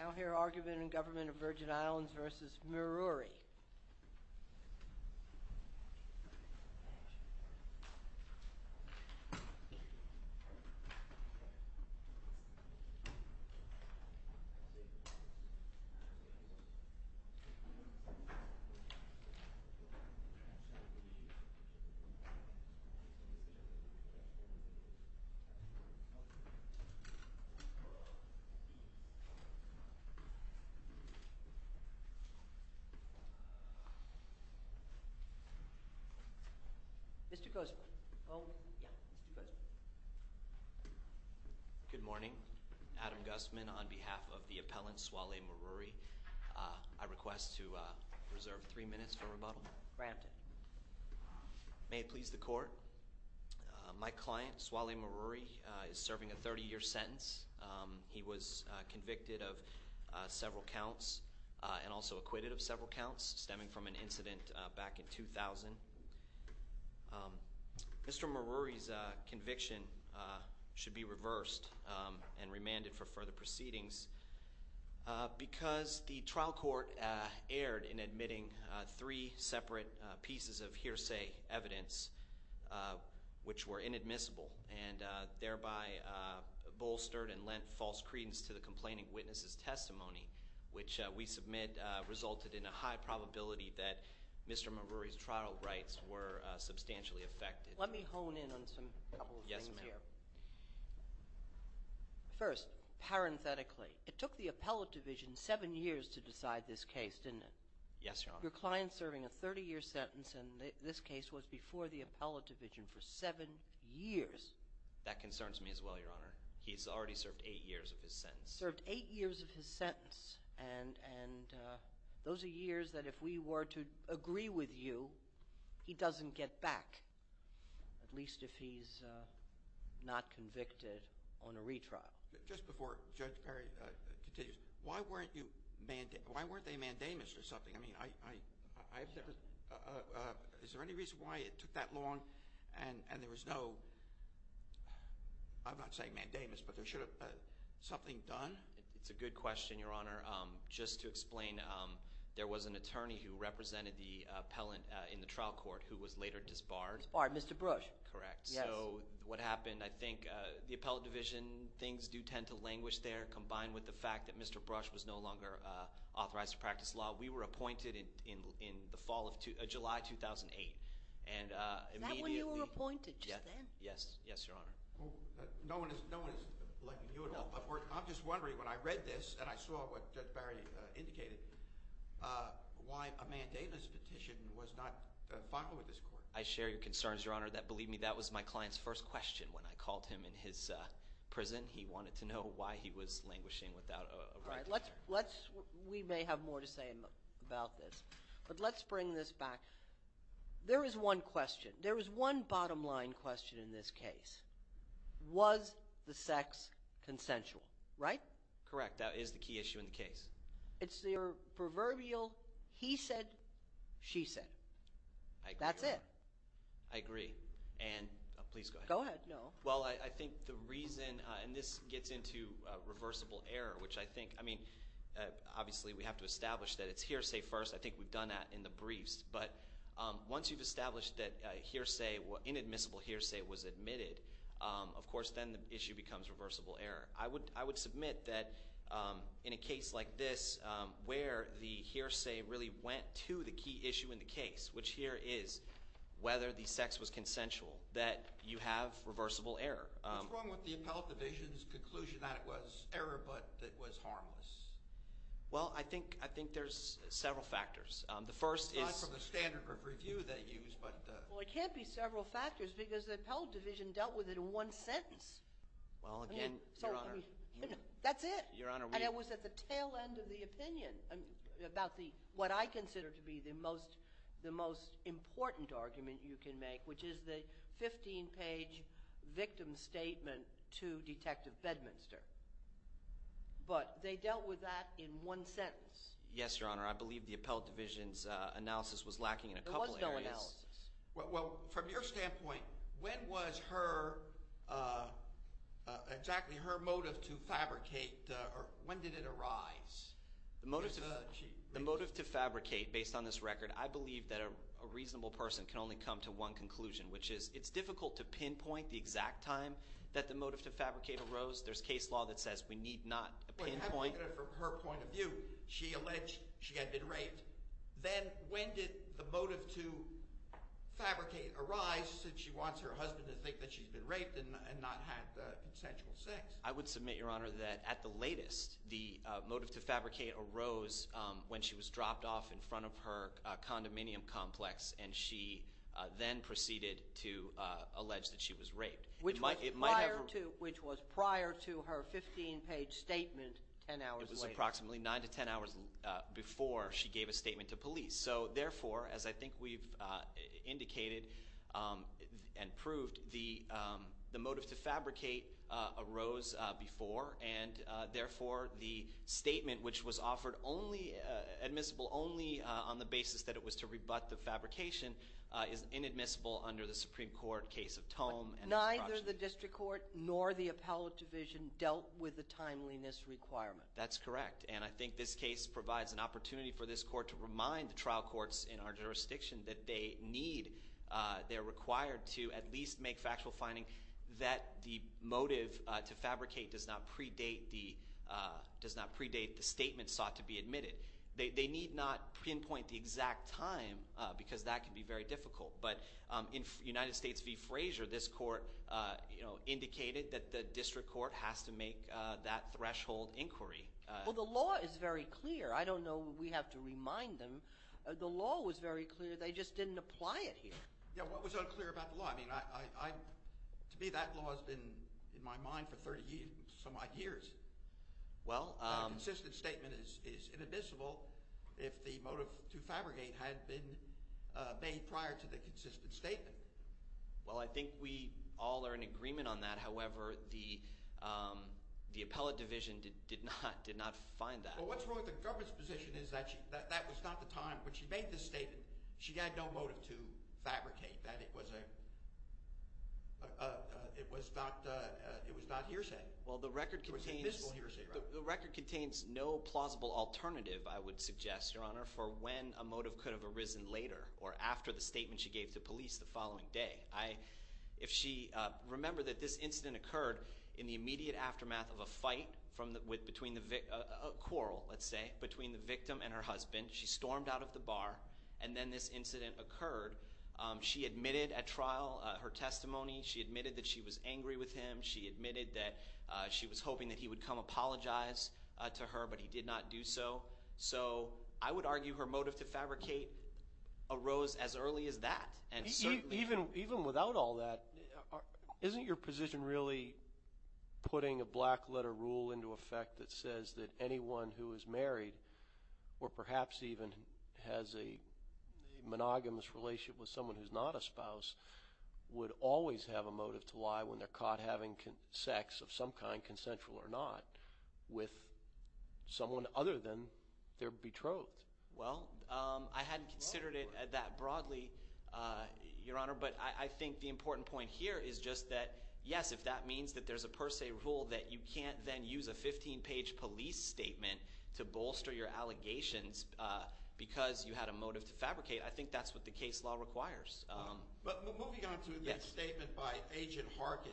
I now hear argument in Government of Virgin Islands v. Muiruri Mr. Guzman Good morning, Adam Guzman on behalf of the appellant Swale Muiruri I request to reserve three minutes for rebuttal Granted May it please the court My client Swale Muiruri is serving a 30 year sentence He was convicted of several counts and also acquitted of several counts Stemming from an incident back in 2000 Mr. Muiruri's conviction should be reversed and remanded for further proceedings Because the trial court erred in admitting three separate pieces of hearsay evidence Which were inadmissible and thereby bolstered and lent false credence to the complaining witness' testimony Which we submit resulted in a high probability that Mr. Muiruri's trial rights were substantially affected Let me hone in on a couple of things here First, parenthetically, it took the appellate division seven years to decide this case, didn't it? Yes, Your Honor Your client serving a 30 year sentence in this case was before the appellate division for seven years That concerns me as well, Your Honor He's already served eight years of his sentence Served eight years of his sentence And those are years that if we were to agree with you, he doesn't get back At least if he's not convicted on a retrial Just before Judge Perry continues, why weren't they mandamus or something? I mean, is there any reason why it took that long and there was no I'm not saying mandamus, but there should have been something done? It's a good question, Your Honor Just to explain, there was an attorney who represented the appellant in the trial court who was later disbarred Disbarred, Mr. Bush Correct Yes So what happened, I think the appellate division, things do tend to languish there Combined with the fact that Mr. Bush was no longer authorized to practice law We were appointed in July 2008 Is that when you were appointed, just then? Yes, Your Honor No one is blaming you at all I'm just wondering when I read this and I saw what Judge Perry indicated Why a mandamus petition was not filed with this court? I share your concerns, Your Honor Believe me, that was my client's first question when I called him in his prison He wanted to know why he was languishing without a retrial We may have more to say about this But let's bring this back There is one question There is one bottom line question in this case Was the sex consensual, right? Correct, that is the key issue in the case It's the proverbial he said, she said That's it I agree Please go ahead Go ahead Well, I think the reason, and this gets into reversible error Which I think, I mean, obviously we have to establish that it's hearsay first I think we've done that in the briefs But once you've established that inadmissible hearsay was admitted Of course then the issue becomes reversible error I would submit that in a case like this Where the hearsay really went to the key issue in the case Which here is whether the sex was consensual That you have reversible error What's wrong with the appellate division's conclusion that it was error but it was harmless? Well, I think there's several factors The first is It's not from the standard of review they use but Well, it can't be several factors Because the appellate division dealt with it in one sentence Well, again, Your Honor That's it Your Honor And it was at the tail end of the opinion About what I consider to be the most important argument you can make Which is the 15-page victim statement to Detective Bedminster But they dealt with that in one sentence Yes, Your Honor I believe the appellate division's analysis was lacking in a couple areas There was no analysis Well, from your standpoint When was her Exactly her motive to fabricate When did it arise? The motive to fabricate based on this record I believe that a reasonable person can only come to one conclusion Which is it's difficult to pinpoint the exact time that the motive to fabricate arose There's case law that says we need not pinpoint Well, you have to look at it from her point of view She alleged she had been raped Then when did the motive to fabricate arise Since she wants her husband to think that she's been raped and not had consensual sex I would submit, Your Honor, that at the latest The motive to fabricate arose when she was dropped off in front of her condominium complex And she then proceeded to allege that she was raped Which was prior to her 15-page statement ten hours later It was approximately nine to ten hours before she gave a statement to police So, therefore, as I think we've indicated and proved The motive to fabricate arose before And, therefore, the statement which was offered only Admissible only on the basis that it was to rebut the fabrication Is inadmissible under the Supreme Court case of Tome Neither the district court nor the appellate division dealt with the timeliness requirement That's correct, and I think this case provides an opportunity for this court To remind the trial courts in our jurisdiction that they need They're required to at least make factual finding That the motive to fabricate does not predate the statement sought to be admitted They need not pinpoint the exact time Because that can be very difficult But in United States v. Frazier This court indicated that the district court has to make that threshold inquiry Well, the law is very clear I don't know if we have to remind them The law was very clear, they just didn't apply it here Yeah, what was unclear about the law? To me, that law has been in my mind for 30-some odd years Well A consistent statement is inadmissible If the motive to fabricate had been made prior to the consistent statement Well, I think we all are in agreement on that However, the appellate division did not find that Well, what's wrong with the government's position is that that was not the time When she made this statement, she had no motive to fabricate That it was not hearsay Well, the record contains no plausible alternative, I would suggest, Your Honor For when a motive could have arisen later Or after the statement she gave to police the following day Remember that this incident occurred in the immediate aftermath of a fight A quarrel, let's say, between the victim and her husband She stormed out of the bar And then this incident occurred She admitted at trial her testimony She admitted that she was angry with him She admitted that she was hoping that he would come apologize to her But he did not do so I would argue her motive to fabricate arose as early as that Even without all that, isn't your position really putting a black-letter rule into effect That says that anyone who is married Or perhaps even has a monogamous relationship with someone who's not a spouse Would always have a motive to lie when they're caught having sex of some kind, consensual or not With someone other than their betrothed Well, I hadn't considered it that broadly, Your Honor But I think the important point here is just that Yes, if that means that there's a per se rule that you can't then use a 15-page police statement To bolster your allegations because you had a motive to fabricate I think that's what the case law requires But moving on to the statement by Agent Harkin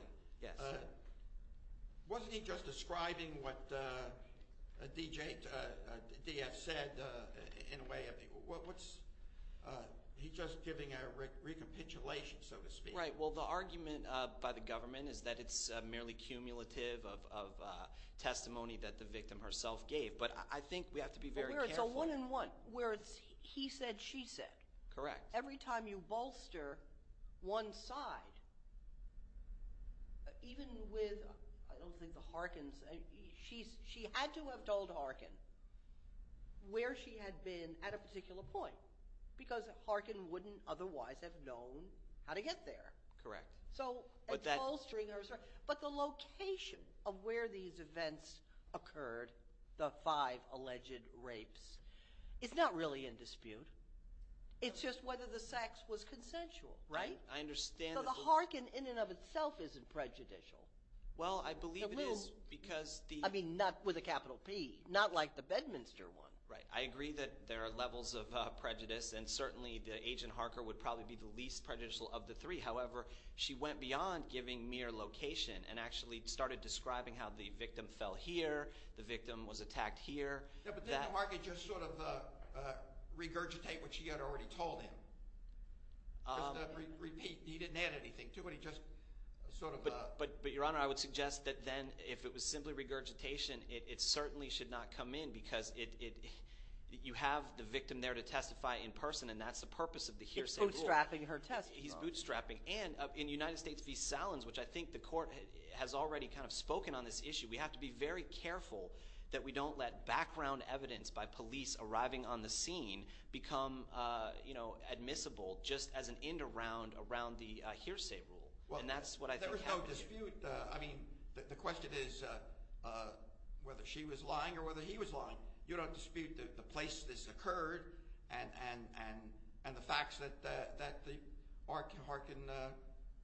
Wasn't he just describing what D.F. said in a way of He's just giving a recapitulation, so to speak Well, the argument by the government is that it's merely cumulative of testimony that the victim herself gave But I think we have to be very careful It's a one-on-one where it's he said, she said Correct Every time you bolster one side Even with, I don't think the Harkins She had to have told Harkin where she had been at a particular point Because Harkin wouldn't otherwise have known how to get there Correct So it's bolstering her But the location of where these events occurred The five alleged rapes It's not really in dispute It's just whether the sex was consensual, right? I understand So the Harkin in and of itself isn't prejudicial Well, I believe it is because I mean, not with a capital P Not like the Bedminster one I agree that there are levels of prejudice And certainly the Agent Harkin would probably be the least prejudicial of the three However, she went beyond giving mere location And actually started describing how the victim fell here The victim was attacked here Yeah, but didn't Harkin just sort of regurgitate what she had already told him? Just to repeat, he didn't add anything to it He just sort of But Your Honor, I would suggest that then if it was simply regurgitation It certainly should not come in because it You have the victim there to testify in person And that's the purpose of the hearsay rule He's bootstrapping her testimony He's bootstrapping And in United States v. Salins Which I think the court has already kind of spoken on this issue We have to be very careful that we don't let background evidence By police arriving on the scene Become, you know, admissible Just as an end around the hearsay rule And that's what I think happened There was no dispute I mean, the question is Whether she was lying or whether he was lying You don't dispute the place this occurred And the facts that Harkin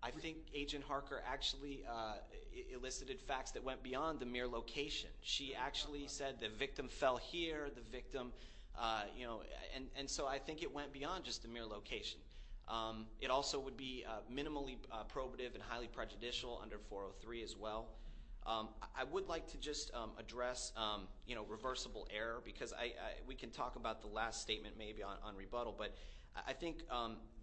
I think Agent Harker actually elicited facts That went beyond the mere location She actually said the victim fell here The victim, you know And so I think it went beyond just the mere location It also would be minimally probative And highly prejudicial under 403 as well I would like to just address, you know, reversible error Because we can talk about the last statement maybe on rebuttal But I think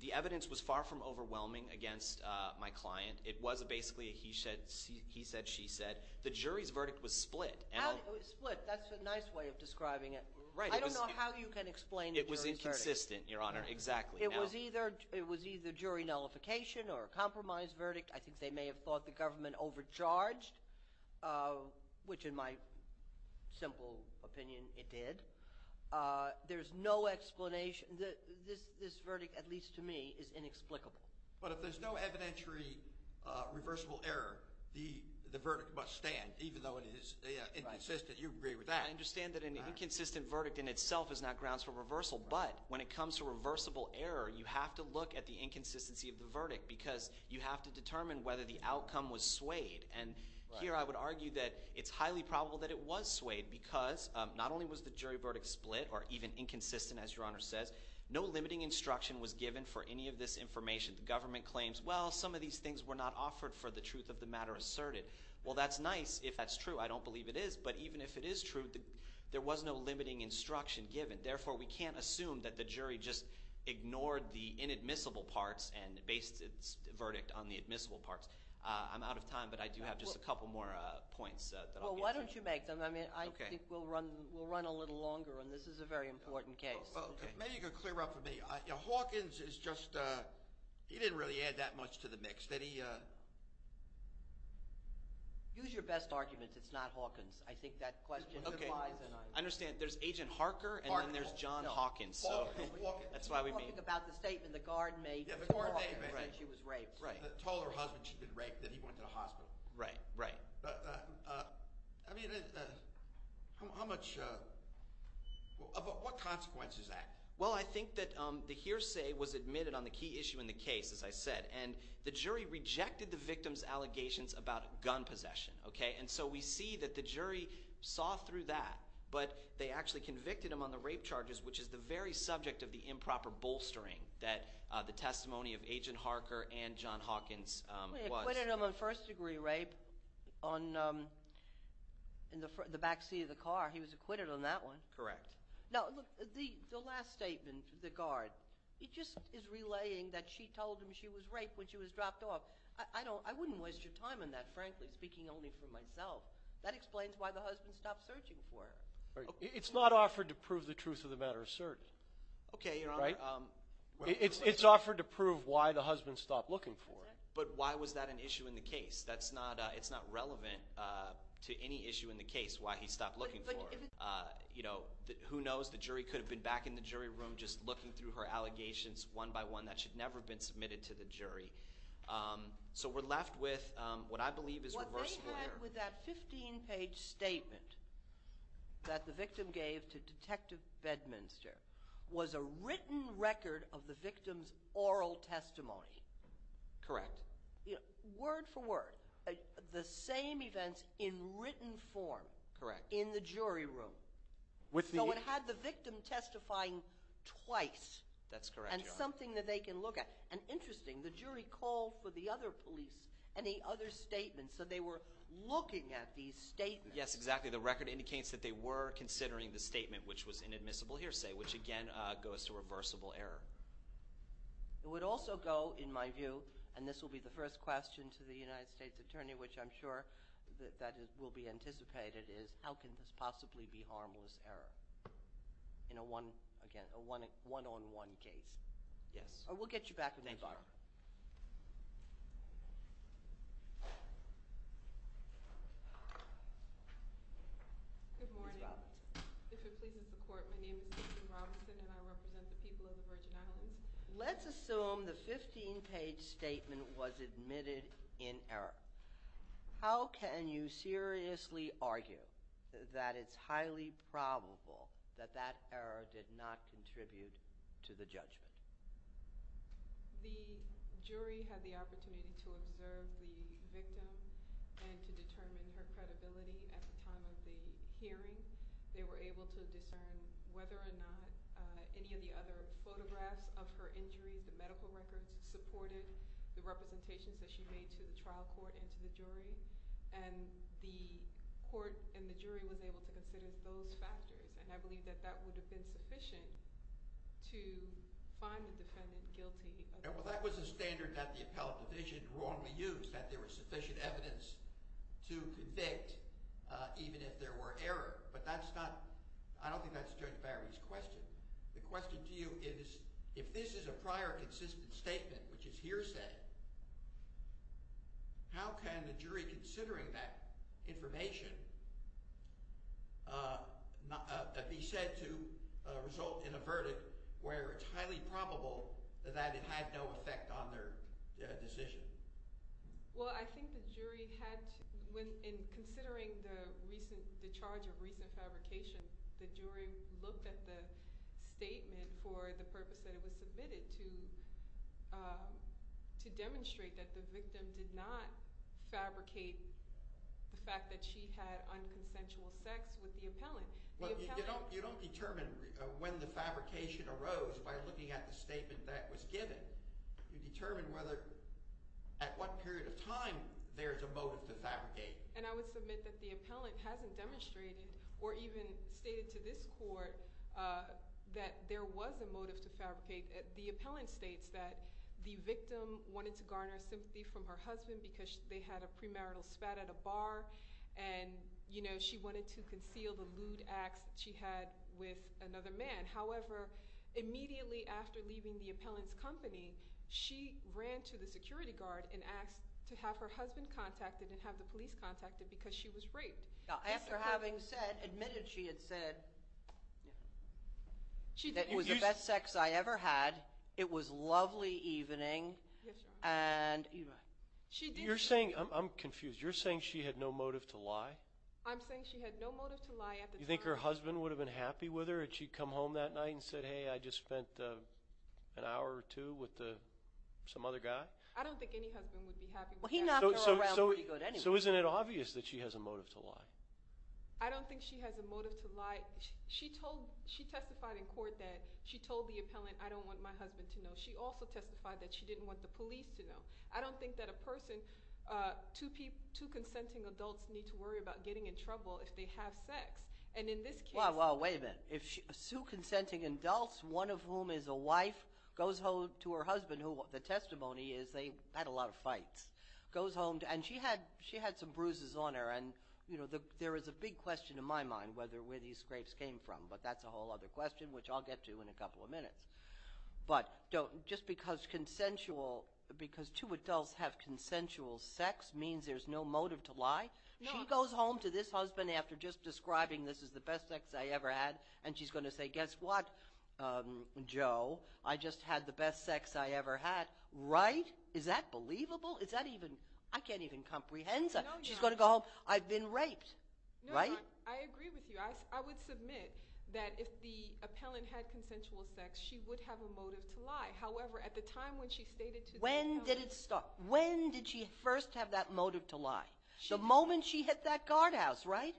the evidence was far from overwhelming against my client It was basically a he said, she said The jury's verdict was split How did it split? That's a nice way of describing it I don't know how you can explain the jury's verdict It was inconsistent, Your Honor, exactly It was either jury nullification or a compromise verdict I think they may have thought the government overcharged Which in my simple opinion it did There's no explanation This verdict, at least to me, is inexplicable But if there's no evidentiary reversible error The verdict must stand Even though it is inconsistent You agree with that I understand that an inconsistent verdict in itself is not grounds for reversal But when it comes to reversible error You have to look at the inconsistency of the verdict Because you have to determine whether the outcome was swayed And here I would argue that it's highly probable that it was swayed Because not only was the jury verdict split Or even inconsistent, as Your Honor says No limiting instruction was given for any of this information The government claims Well, some of these things were not offered for the truth of the matter asserted Well, that's nice if that's true I don't believe it is But even if it is true There was no limiting instruction given Therefore, we can't assume that the jury just ignored the inadmissible parts And based its verdict on the admissible parts I'm out of time But I do have just a couple more points Well, why don't you make them I mean, I think we'll run a little longer And this is a very important case Maybe you could clear up for me Hawkins is just – he didn't really add that much to the mix Use your best arguments It's not Hawkins I think that question implies an argument I understand There's Agent Harker And then there's John Hawkins Hawkins That's why we made Talking about the statement the guard made to Hawkins That she was raped Told her husband she'd been raped That he went to the hospital Right, right I mean, how much – what consequence is that? Well, I think that the hearsay was admitted on the key issue in the case, as I said And the jury rejected the victim's allegations about gun possession, okay? And so we see that the jury saw through that But they actually convicted him on the rape charges Which is the very subject of the improper bolstering That the testimony of Agent Harker and John Hawkins was He acquitted him on first-degree rape on – in the backseat of the car He was acquitted on that one Correct Now, look, the last statement, the guard He just is relaying that she told him she was raped when she was dropped off I don't – I wouldn't waste your time on that, frankly, speaking only for myself That explains why the husband stopped searching for her It's not offered to prove the truth of the matter asserted Okay, Your Honor Right? It's offered to prove why the husband stopped looking for her But why was that an issue in the case? That's not – it's not relevant to any issue in the case, why he stopped looking for her You know, who knows? The jury could have been back in the jury room just looking through her allegations one by one That should never have been submitted to the jury So we're left with what I believe is reversible error What they had with that 15-page statement that the victim gave to Detective Bedminster Was a written record of the victim's oral testimony Correct Word for word The same events in written form Correct In the jury room With the – So it had the victim testifying twice That's correct, Your Honor And something that they can look at And interesting, the jury called for the other police and the other statements So they were looking at these statements Yes, exactly The record indicates that they were considering the statement which was inadmissible hearsay Which, again, goes to reversible error It would also go, in my view And this will be the first question to the United States Attorney Which I'm sure that will be anticipated Is how can this possibly be harmless error In a one – again, a one-on-one case Yes We'll get you back to me, Barbara Thank you, Your Honor Good morning Ms. Robinson If it pleases the Court My name is Jason Robinson And I represent the people of the Virgin Islands Let's assume the 15-page statement was admitted in error How can you seriously argue that it's highly probable That that error did not contribute to the judgment? The jury had the opportunity to observe the victim And to determine her credibility at the time of the hearing They were able to discern whether or not Any of the other photographs of her injuries The medical records supported the representations that she made To the trial court and to the jury And the court and the jury was able to consider those factors And I believe that that would have been sufficient To find the defendant guilty Well, that was a standard that the appellate division wrongly used That there was sufficient evidence to convict Even if there were errors But that's not I don't think that's Judge Barry's question The question to you is If this is a prior consistent statement Which is hearsay How can the jury, considering that information Be said to result in a verdict Where it's highly probable That it had no effect on their decision Well, I think the jury had to In considering the charge of recent fabrication The jury looked at the statement For the purpose that it was submitted To demonstrate that the victim did not fabricate The fact that she had unconsensual sex with the appellant You don't determine when the fabrication arose By looking at the statement that was given You determine whether At what period of time there's a motive to fabricate And I would submit that the appellant hasn't demonstrated Or even stated to this court That there was a motive to fabricate The appellant states that The victim wanted to garner sympathy from her husband Because they had a premarital spat at a bar And, you know, she wanted to conceal However, immediately after leaving the appellant's company She ran to the security guard And asked to have her husband contacted And have the police contacted Because she was raped After having said, admitted she had said That it was the best sex I ever had It was a lovely evening You're saying, I'm confused You're saying she had no motive to lie? I'm saying she had no motive to lie at the time You think her husband would have been happy with her Had she come home that night and said Hey, I just spent an hour or two with some other guy I don't think any husband would be happy with that He knocked her around pretty good anyway So isn't it obvious that she has a motive to lie? I don't think she has a motive to lie She testified in court that She told the appellant, I don't want my husband to know She also testified that she didn't want the police to know I don't think that a person Two consenting adults need to worry about getting in trouble If they have sex And in this case Well, wait a minute Two consenting adults, one of whom is a wife Goes home to her husband The testimony is they had a lot of fights And she had some bruises on her There is a big question in my mind Where these scrapes came from But that's a whole other question Which I'll get to in a couple of minutes But just because two adults have consensual sex Means there's no motive to lie She goes home to this husband After just describing this as the best sex I ever had And she's going to say, guess what, Joe I just had the best sex I ever had Right? Is that believable? Is that even I can't even comprehend that She's going to go home I've been raped Right? I agree with you I would submit that if the appellant had consensual sex She would have a motive to lie However, at the time when she stated to the appellant When did it start? When did she first have that motive to lie? The moment she hit that guardhouse, right?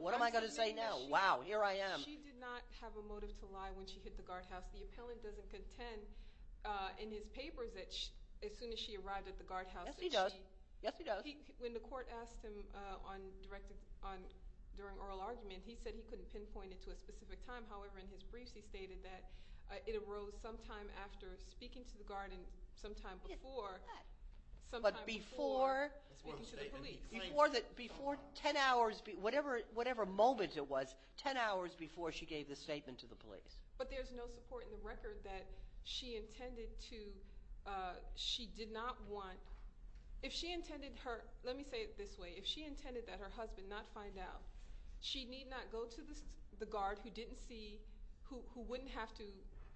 What am I going to say now? Wow, here I am She did not have a motive to lie When she hit the guardhouse The appellant doesn't contend In his papers As soon as she arrived at the guardhouse Yes, he does Yes, he does When the court asked him During oral argument He said he couldn't pinpoint it to a specific time However, in his briefs He stated that It arose sometime after speaking to the guard And sometime before But before Speaking to the police Before 10 hours Whatever moment it was 10 hours before she gave the statement to the police But there's no support in the record that She intended to She did not want If she intended her Let me say it this way If she intended that her husband not find out She need not go to the guard Who didn't see Who wouldn't have to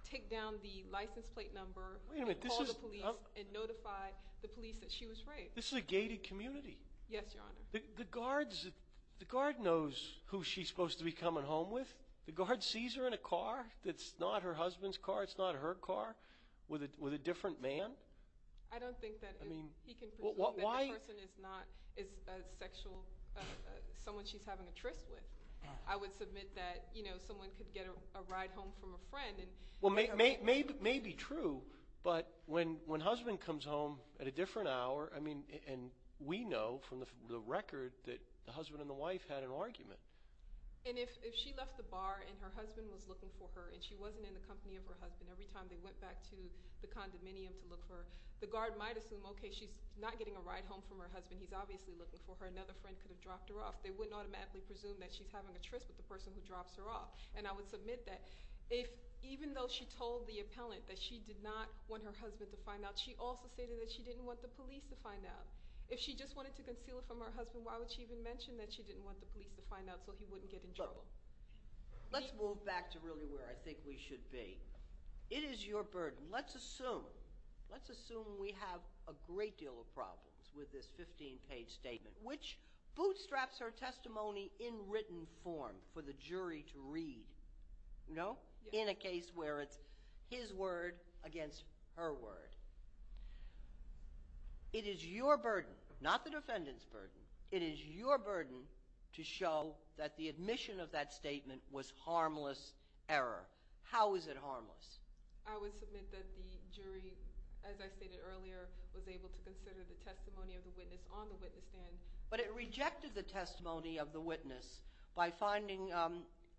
Take down the license plate number And call the police And notify the police that she was raped This is a gated community Yes, your honor The guard knows Who she's supposed to be coming home with The guard sees her in a car That's not her husband's car It's not her car With a different man I don't think that He can presume that the person is not Is a sexual Someone she's having a tryst with I would submit that Someone could get a ride home from a friend May be true But when husband comes home At a different hour And we know from the record That the husband and the wife had an argument And if she left the bar And her husband was looking for her And she wasn't in the company of her husband Every time they went back to the condominium To look for her The guard might assume Okay, she's not getting a ride home from her husband He's obviously looking for her Another friend could have dropped her off They wouldn't automatically presume That she's having a tryst with the person who drops her off And I would submit that Even though she told the appellant That she did not want her husband to find out She also stated that she didn't want the police To find out If she just wanted to conceal it from her husband Why would she even mention That she didn't want the police to find out So he wouldn't get in trouble Let's move back to really where I think we should be It is your burden Let's assume Let's assume we have a great deal of problems With this 15-page statement Which bootstraps her testimony in written form For the jury to read No? In a case where it's his word against her word It is your burden Not the defendant's burden It is your burden To show that the admission of that statement Was harmless error How is it harmless? I would submit that the jury As I stated earlier Was able to consider the testimony of the witness On the witness stand But it rejected the testimony of the witness By finding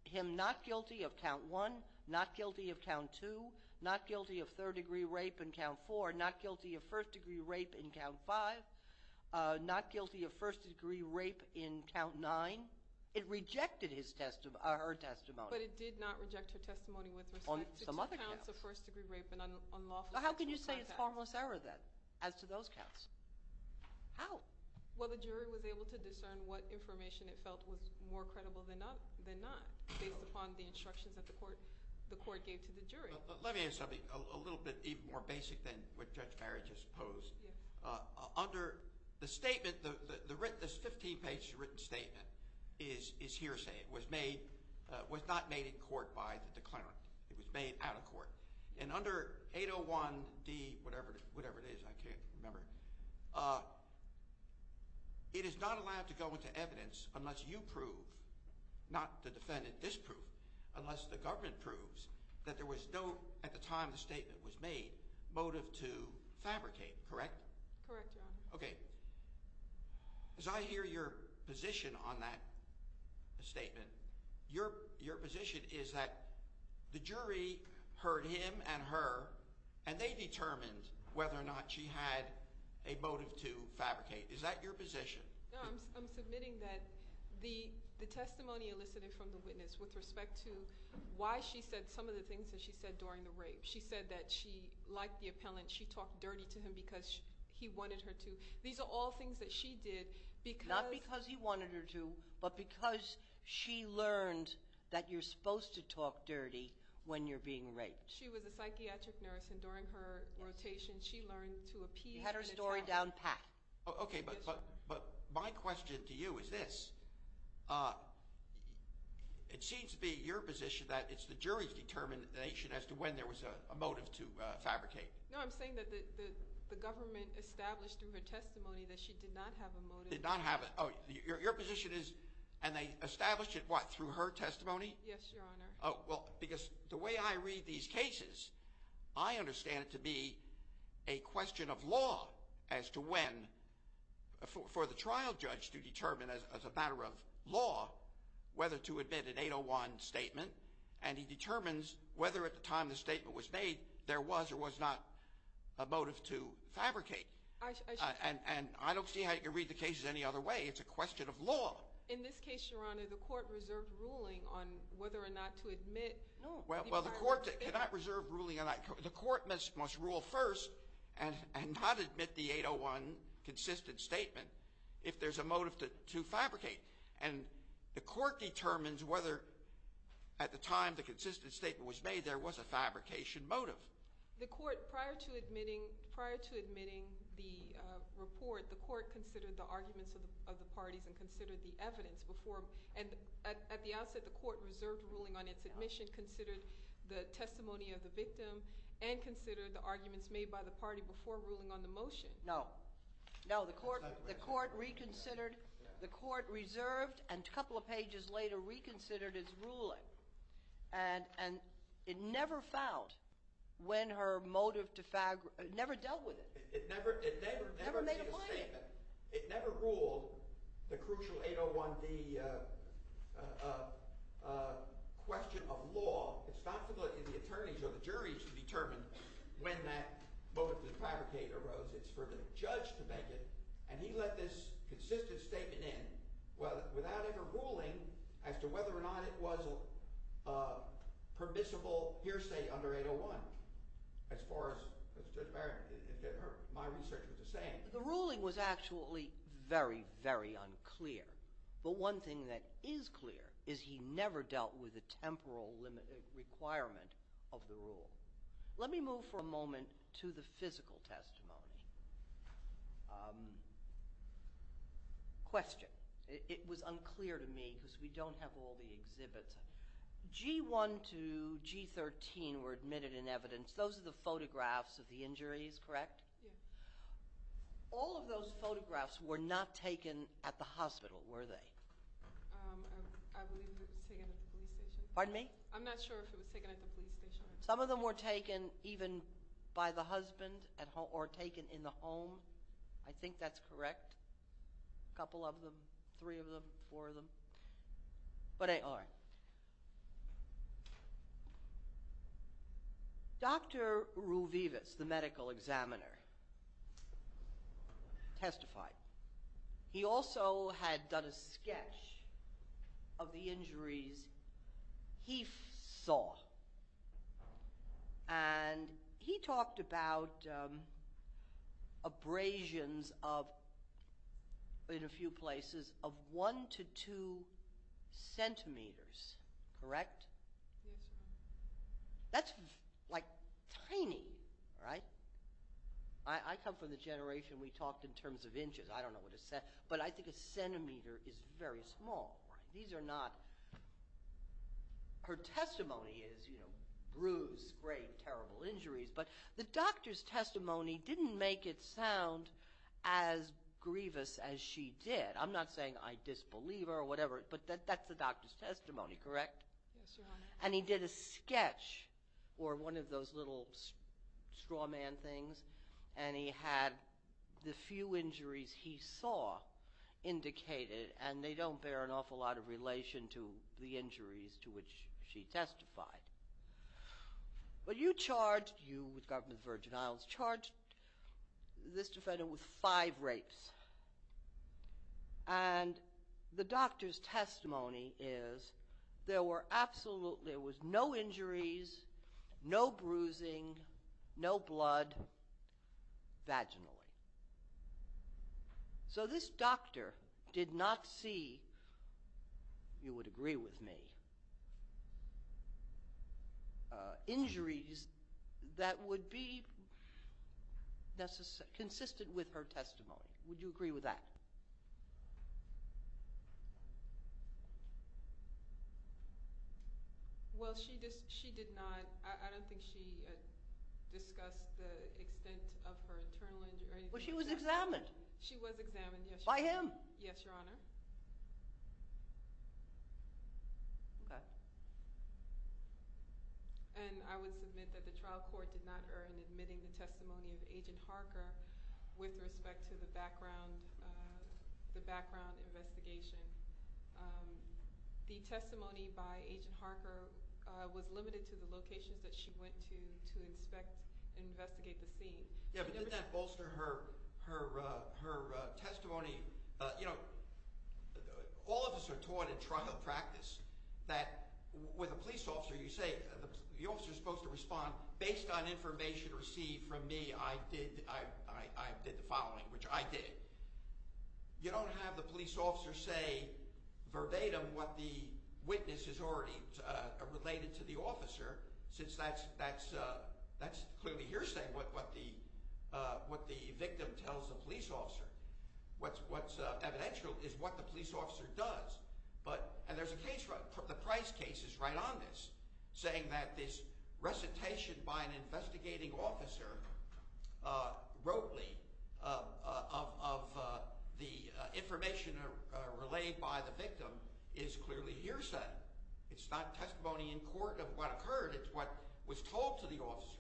him not guilty of count one Not guilty of count two Not guilty of third degree rape in count four Not guilty of first degree rape in count five Not guilty of first degree rape in count nine It rejected her testimony But it did not reject her testimony With respect to two counts of first degree rape And unlawful sexual contact How can you say it's harmless error then As to those counts? How? Well the jury was able to discern What information it felt was more credible than not Based upon the instructions that the court Gave to the jury Let me ask something A little bit even more basic Than what Judge Barry just posed Under the statement This fifteen page written statement Is hearsay It was made Was not made in court by the declarant It was made out of court And under 801 D Whatever it is I can't remember It is not allowed to go into evidence Unless you prove Not the defendant disprove Unless the government proves That there was no At the time the statement was made Motive to fabricate Correct? Correct your honor Okay As I hear your position on that Statement Your position is that The jury heard him and her And they determined Whether or not she had A motive to fabricate Is that your position? No I'm submitting that The testimony elicited from the witness With respect to Why she said Some of the things That she said during the rape She said that she Liked the appellant She talked dirty to him Because he wanted her to These are all things that she did Not because he wanted her to But because she learned That you're supposed to talk dirty When you're being raped She was a psychiatric nurse And during her rotation She learned to appeal You had her story down pat Okay but My question to you is this It seems to be your position That it's the jury's Determination as to when There was a motive to fabricate No I'm saying that The government established Through her testimony That she did not have a motive Did not have a Oh your position is And they established it what Through her testimony Yes your honor Oh well because The way I read these cases I understand it to be A question of law As to when For the trial judge to determine As a matter of law Whether to admit An 801 statement And he determines Whether at the time The statement was made There was or was not A motive to fabricate And I don't see how You can read the cases Any other way It's a question of law In this case your honor The court reserved ruling On whether or not to admit Well the court Cannot reserve ruling On that The court must rule first And not admit the 801 Consistent statement If there's a motive To fabricate And the court determines Whether at the time The consistent statement was made There was a fabrication motive The court prior to admitting Prior to admitting The report The court considered The arguments of the parties And considered the evidence Before and at the outset The court reserved ruling On its admission Considered the testimony Of the victim And considered the arguments Made by the party Before ruling on the motion No No the court The court reconsidered The court reserved And a couple of pages later Reconsidered its ruling And it never found When her motive to fabricate Never dealt with it It never It never Never made a claim It never ruled The crucial 801D Question of law It's not for the Attorneys or the juries To determine When that Motive to fabricate arose It's for the judge to make it And he let this Consistent statement in Without ever ruling As to whether or not It was a permissible Hearsay under 801 As far as My research was the same The ruling was actually Very very unclear But one thing that is clear Is he never dealt with The temporal requirement Of the rule Let me move for a moment To the physical testimony Question It was unclear to me Because we don't have All the exhibits G1 to G13 Were admitted in evidence Those are the photographs Of the injuries, correct? Yeah All of those photographs Were not taken at the hospital Were they? I believe it was taken At the police station Pardon me? I'm not sure if it was taken At the police station Some of them were taken Even by the husband Or taken in the home I think that's correct A couple of them Three of them Four of them But all right Dr. Ruvivas The medical examiner Testified He also had done a sketch Of the injuries He saw And he talked about Abrasions of In a few places Of one to two centimeters Correct? Yes That's like tiny Right? I come from the generation We talked in terms of inches I don't know what a But I think a centimeter Is very small These are not Her testimony is Bruised, great, terrible injuries But the doctor's testimony Didn't make it sound As grievous as she did I'm not saying I disbelieve her Or whatever But that's the doctor's testimony Correct? Yes sir And he did a sketch Or one of those little Straw man things And he had The few injuries he saw Indicated And they don't bear An awful lot of relation To the injuries To which she testified But you charged You with the government Of the Virgin Islands Charged this defendant With five rapes And the doctor's testimony Is there were absolutely There was no injuries No bruising No blood Vaginally So this doctor Did not see You would agree with me Injuries that would be Consistent with her testimony Would you agree with that? Well she did not I don't think she Discussed the extent Of her internal injury But she was examined She was examined By him? Yes your honor Okay And I would submit That the trial court Did not earn Admitting the testimony Of Agent Harker With respect to the background The background investigation The testimony by Agent Harker Was limited to the locations That she went to To inspect Investigate the scene Yeah but didn't that Bolster her Testimony All of us are taught In trial practice That with a police officer You say the officer Is supposed to respond Based on information Received from me I did the following Which I did You don't have the police officer Say verbatim What the witness Has already related To the officer Since that's Clearly hearsay What the victim Tells the police officer What's evidential Is what the police officer does And there's a case The Price case is right on this Saying that this Recitation by an Investigating officer Rotely Of the information Relayed by the victim Is clearly hearsay It's not testimony In court of what occurred It's what was told To the officer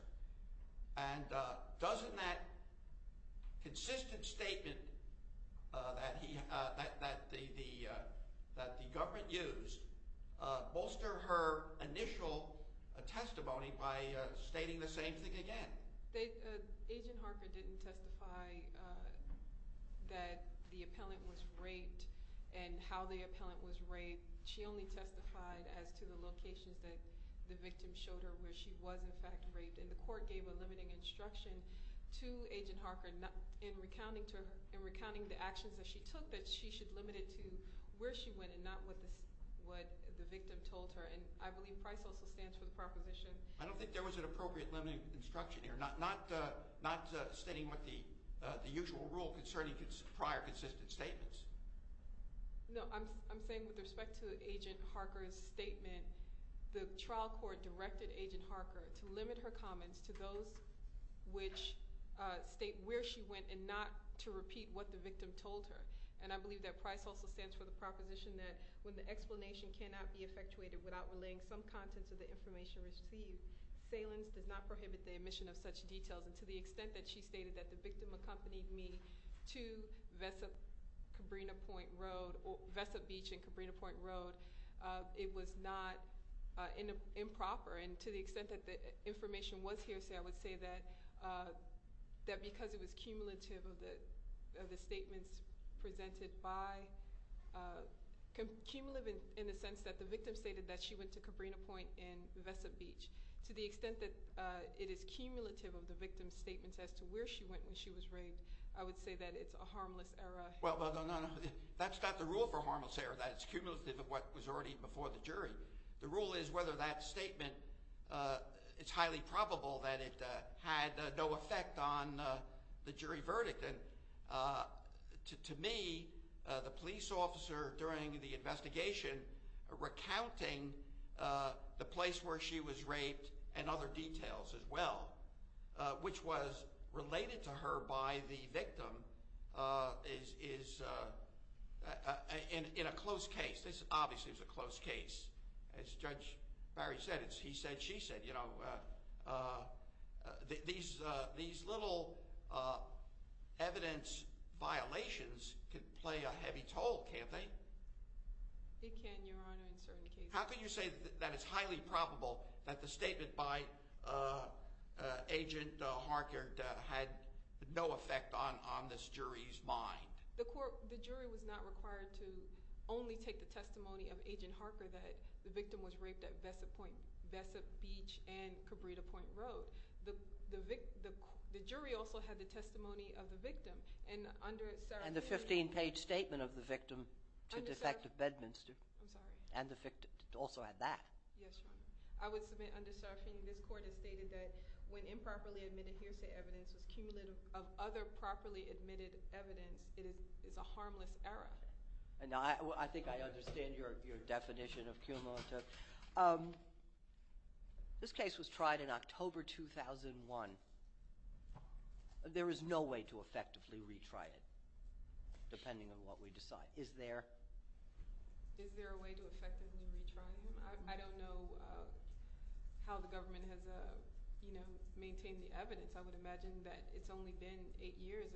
And doesn't that Consistent statement That he That the Government used Bolster her initial Testimony by stating The same thing again Agent Harker didn't testify That the Appellant was raped And how the appellant was raped She only testified as to the locations That the victim showed her Where she was in fact raped And the court gave a limiting instruction To agent Harker In recounting the actions That she took that she should limit it to Where she went and not what the Victim told her And I believe Price also stands for the proposition I don't think there was an appropriate limiting instruction here Not stating what the Usual rule concerning Prior consistent statements No I'm saying With respect to agent Harker's statement The trial court Directed agent Harker to limit her comments To those which State where she went and not To repeat what the victim told her And I believe that Price also stands for the Proposition that when the explanation Cannot be effectuated without relaying some Contents of the information received Salins does not prohibit the emission of such Details and to the extent that she stated that The victim accompanied me to Vesa Cabrinha Point Road Vesa Beach and Cabrinha Point Road It was not Improper and to the extent that The information was here I would say that That because it was Cumulative of the Statements presented by Cumulative In the sense that the victim stated that She went to Cabrinha Point and Vesa Beach To the extent that It is cumulative of the victim's statements As to where she went when she was raped I would say that it's a harmless error Well that's not the rule for harmless error That's cumulative of what was already before the jury The rule is whether that statement Is highly Probable that it had no Effect on the jury Verdict and To me the police Officer during the investigation Recounting The place where she was raped And other details as well Which was related To her by the victim Is In a Close case, this obviously was a close case As Judge Barry said It's he said she said These Little Evidence violations Could play a heavy toll Can't they? It can your honor in certain cases How can you say that it's highly probable That the statement by Agent Harkert Had no effect on This jury's mind The jury was not required to Only take the testimony of Agent Harkert That the victim was raped at Vesap Beach and Cabrita Point Road The jury also had the testimony Of the victim And the 15 page statement of the victim To Defective Bedminster And the victim also had that Yes your honor This court has stated that When improperly admitted hearsay evidence Is cumulative of other properly Admitted evidence it is A harmless error I think I understand your definition Of cumulative This case was tried In October 2001 There is no Way to effectively retry it Depending on what we decide Is there Is there a way to effectively retry it I don't know How the government has You know Maintained the evidence I would imagine that it's only been 8 years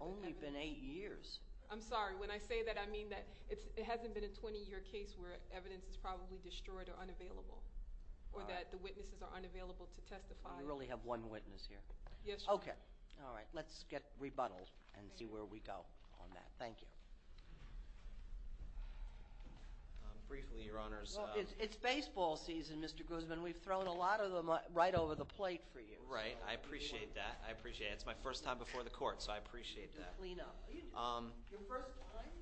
Only been 8 years I'm sorry when I say that I mean that It hasn't been a 20 year case where Evidence is probably destroyed or unavailable Or that the witnesses are unavailable To testify You really have one witness here Yes your honor Okay alright let's get rebuttaled And see where we go on that Thank you Briefly your honors It's baseball season Mr. Guzman We've thrown a lot of them right over the plate for you Right I appreciate that It's my first time before the court So I appreciate that Your first time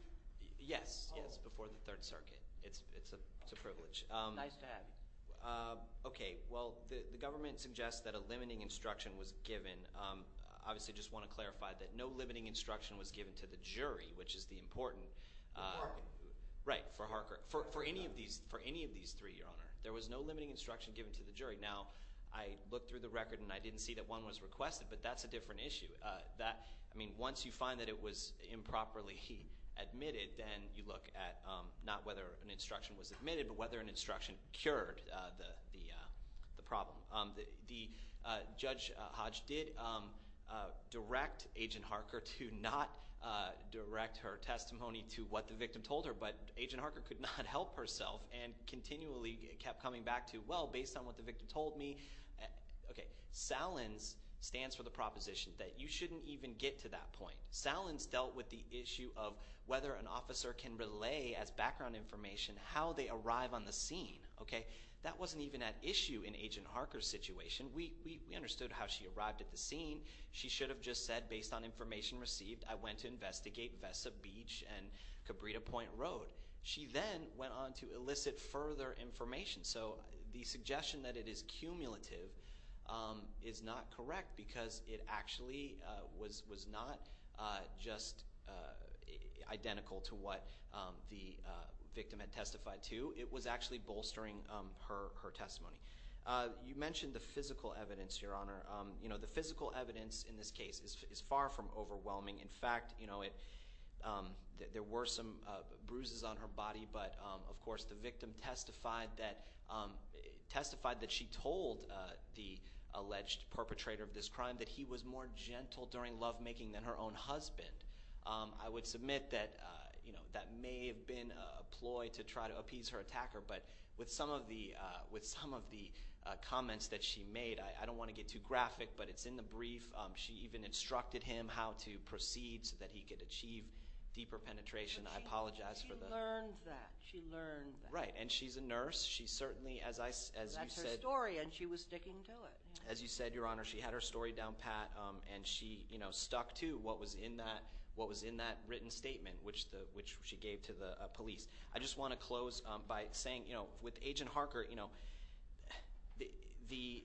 Yes Before the third circuit It's a privilege Okay well the government suggests That a limiting instruction was given Obviously I just want to clarify That no limiting instruction was given to the jury Which is the important For Harker For any of these three your honor There was no limiting instruction given to the jury Now I looked through the record And I didn't see that one was requested But that's a different issue Once you find that it was improperly Admitted then you look at Not whether an instruction was admitted But whether an instruction cured The problem Judge Hodge did Direct Agent Harker To not direct her testimony To what the victim told her But Agent Harker could not help herself And continually kept coming back to Well based on what the victim told me Okay Salins stands for the proposition That you shouldn't even get to that point Salins dealt with the issue of Whether an officer can relay as background information How they arrive on the scene Okay that wasn't even at issue In Agent Harker's situation We understood how she arrived at the scene She should have just said Based on information received I went to investigate Vessa Beach And Cabrita Point Road She then went on to elicit further information So the suggestion that it is cumulative Is not correct Because it actually Was not Just Identical to what The victim had testified to It was actually bolstering her testimony You mentioned the physical evidence The physical evidence In this case is far from overwhelming In fact There were some bruises On her body but of course The victim testified that Testified that she told The alleged perpetrator Of this crime that he was more gentle During lovemaking than her own husband I would submit that That may have been a ploy To try to appease her attacker But with some of the Comments that she made I don't want to get too graphic but it's in the brief She even instructed him how to proceed So that he could achieve Deeper penetration She learned that And she's a nurse That's her story and she was sticking to it As you said your honor She had her story down pat And she stuck to what was in that Written statement Which she gave to the police I just want to close by saying With agent Harker The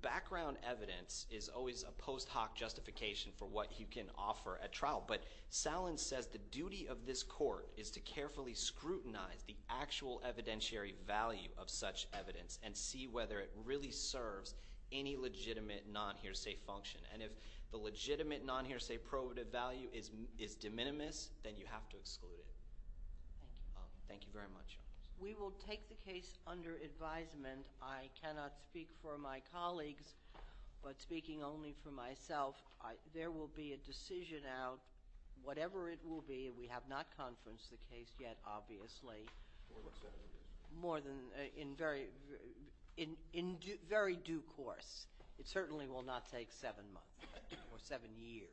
background evidence Is always a post hoc justification For what you can offer at trial But Salen says the duty of this court Is to carefully scrutinize The actual evidentiary value Of such evidence and see whether It really serves any legitimate Non-hearsay function And if the legitimate non-hearsay Probative value is de minimis Then you have to exclude it Thank you very much We will take the case under advisement I cannot speak for my Colleagues but speaking Only for myself There will be a decision out Whatever it will be We have not conferenced the case yet Obviously In very Due course It certainly will not take seven months Or seven years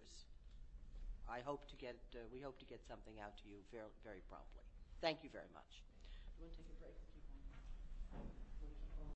I hope to get Something out to you very promptly Thank you very much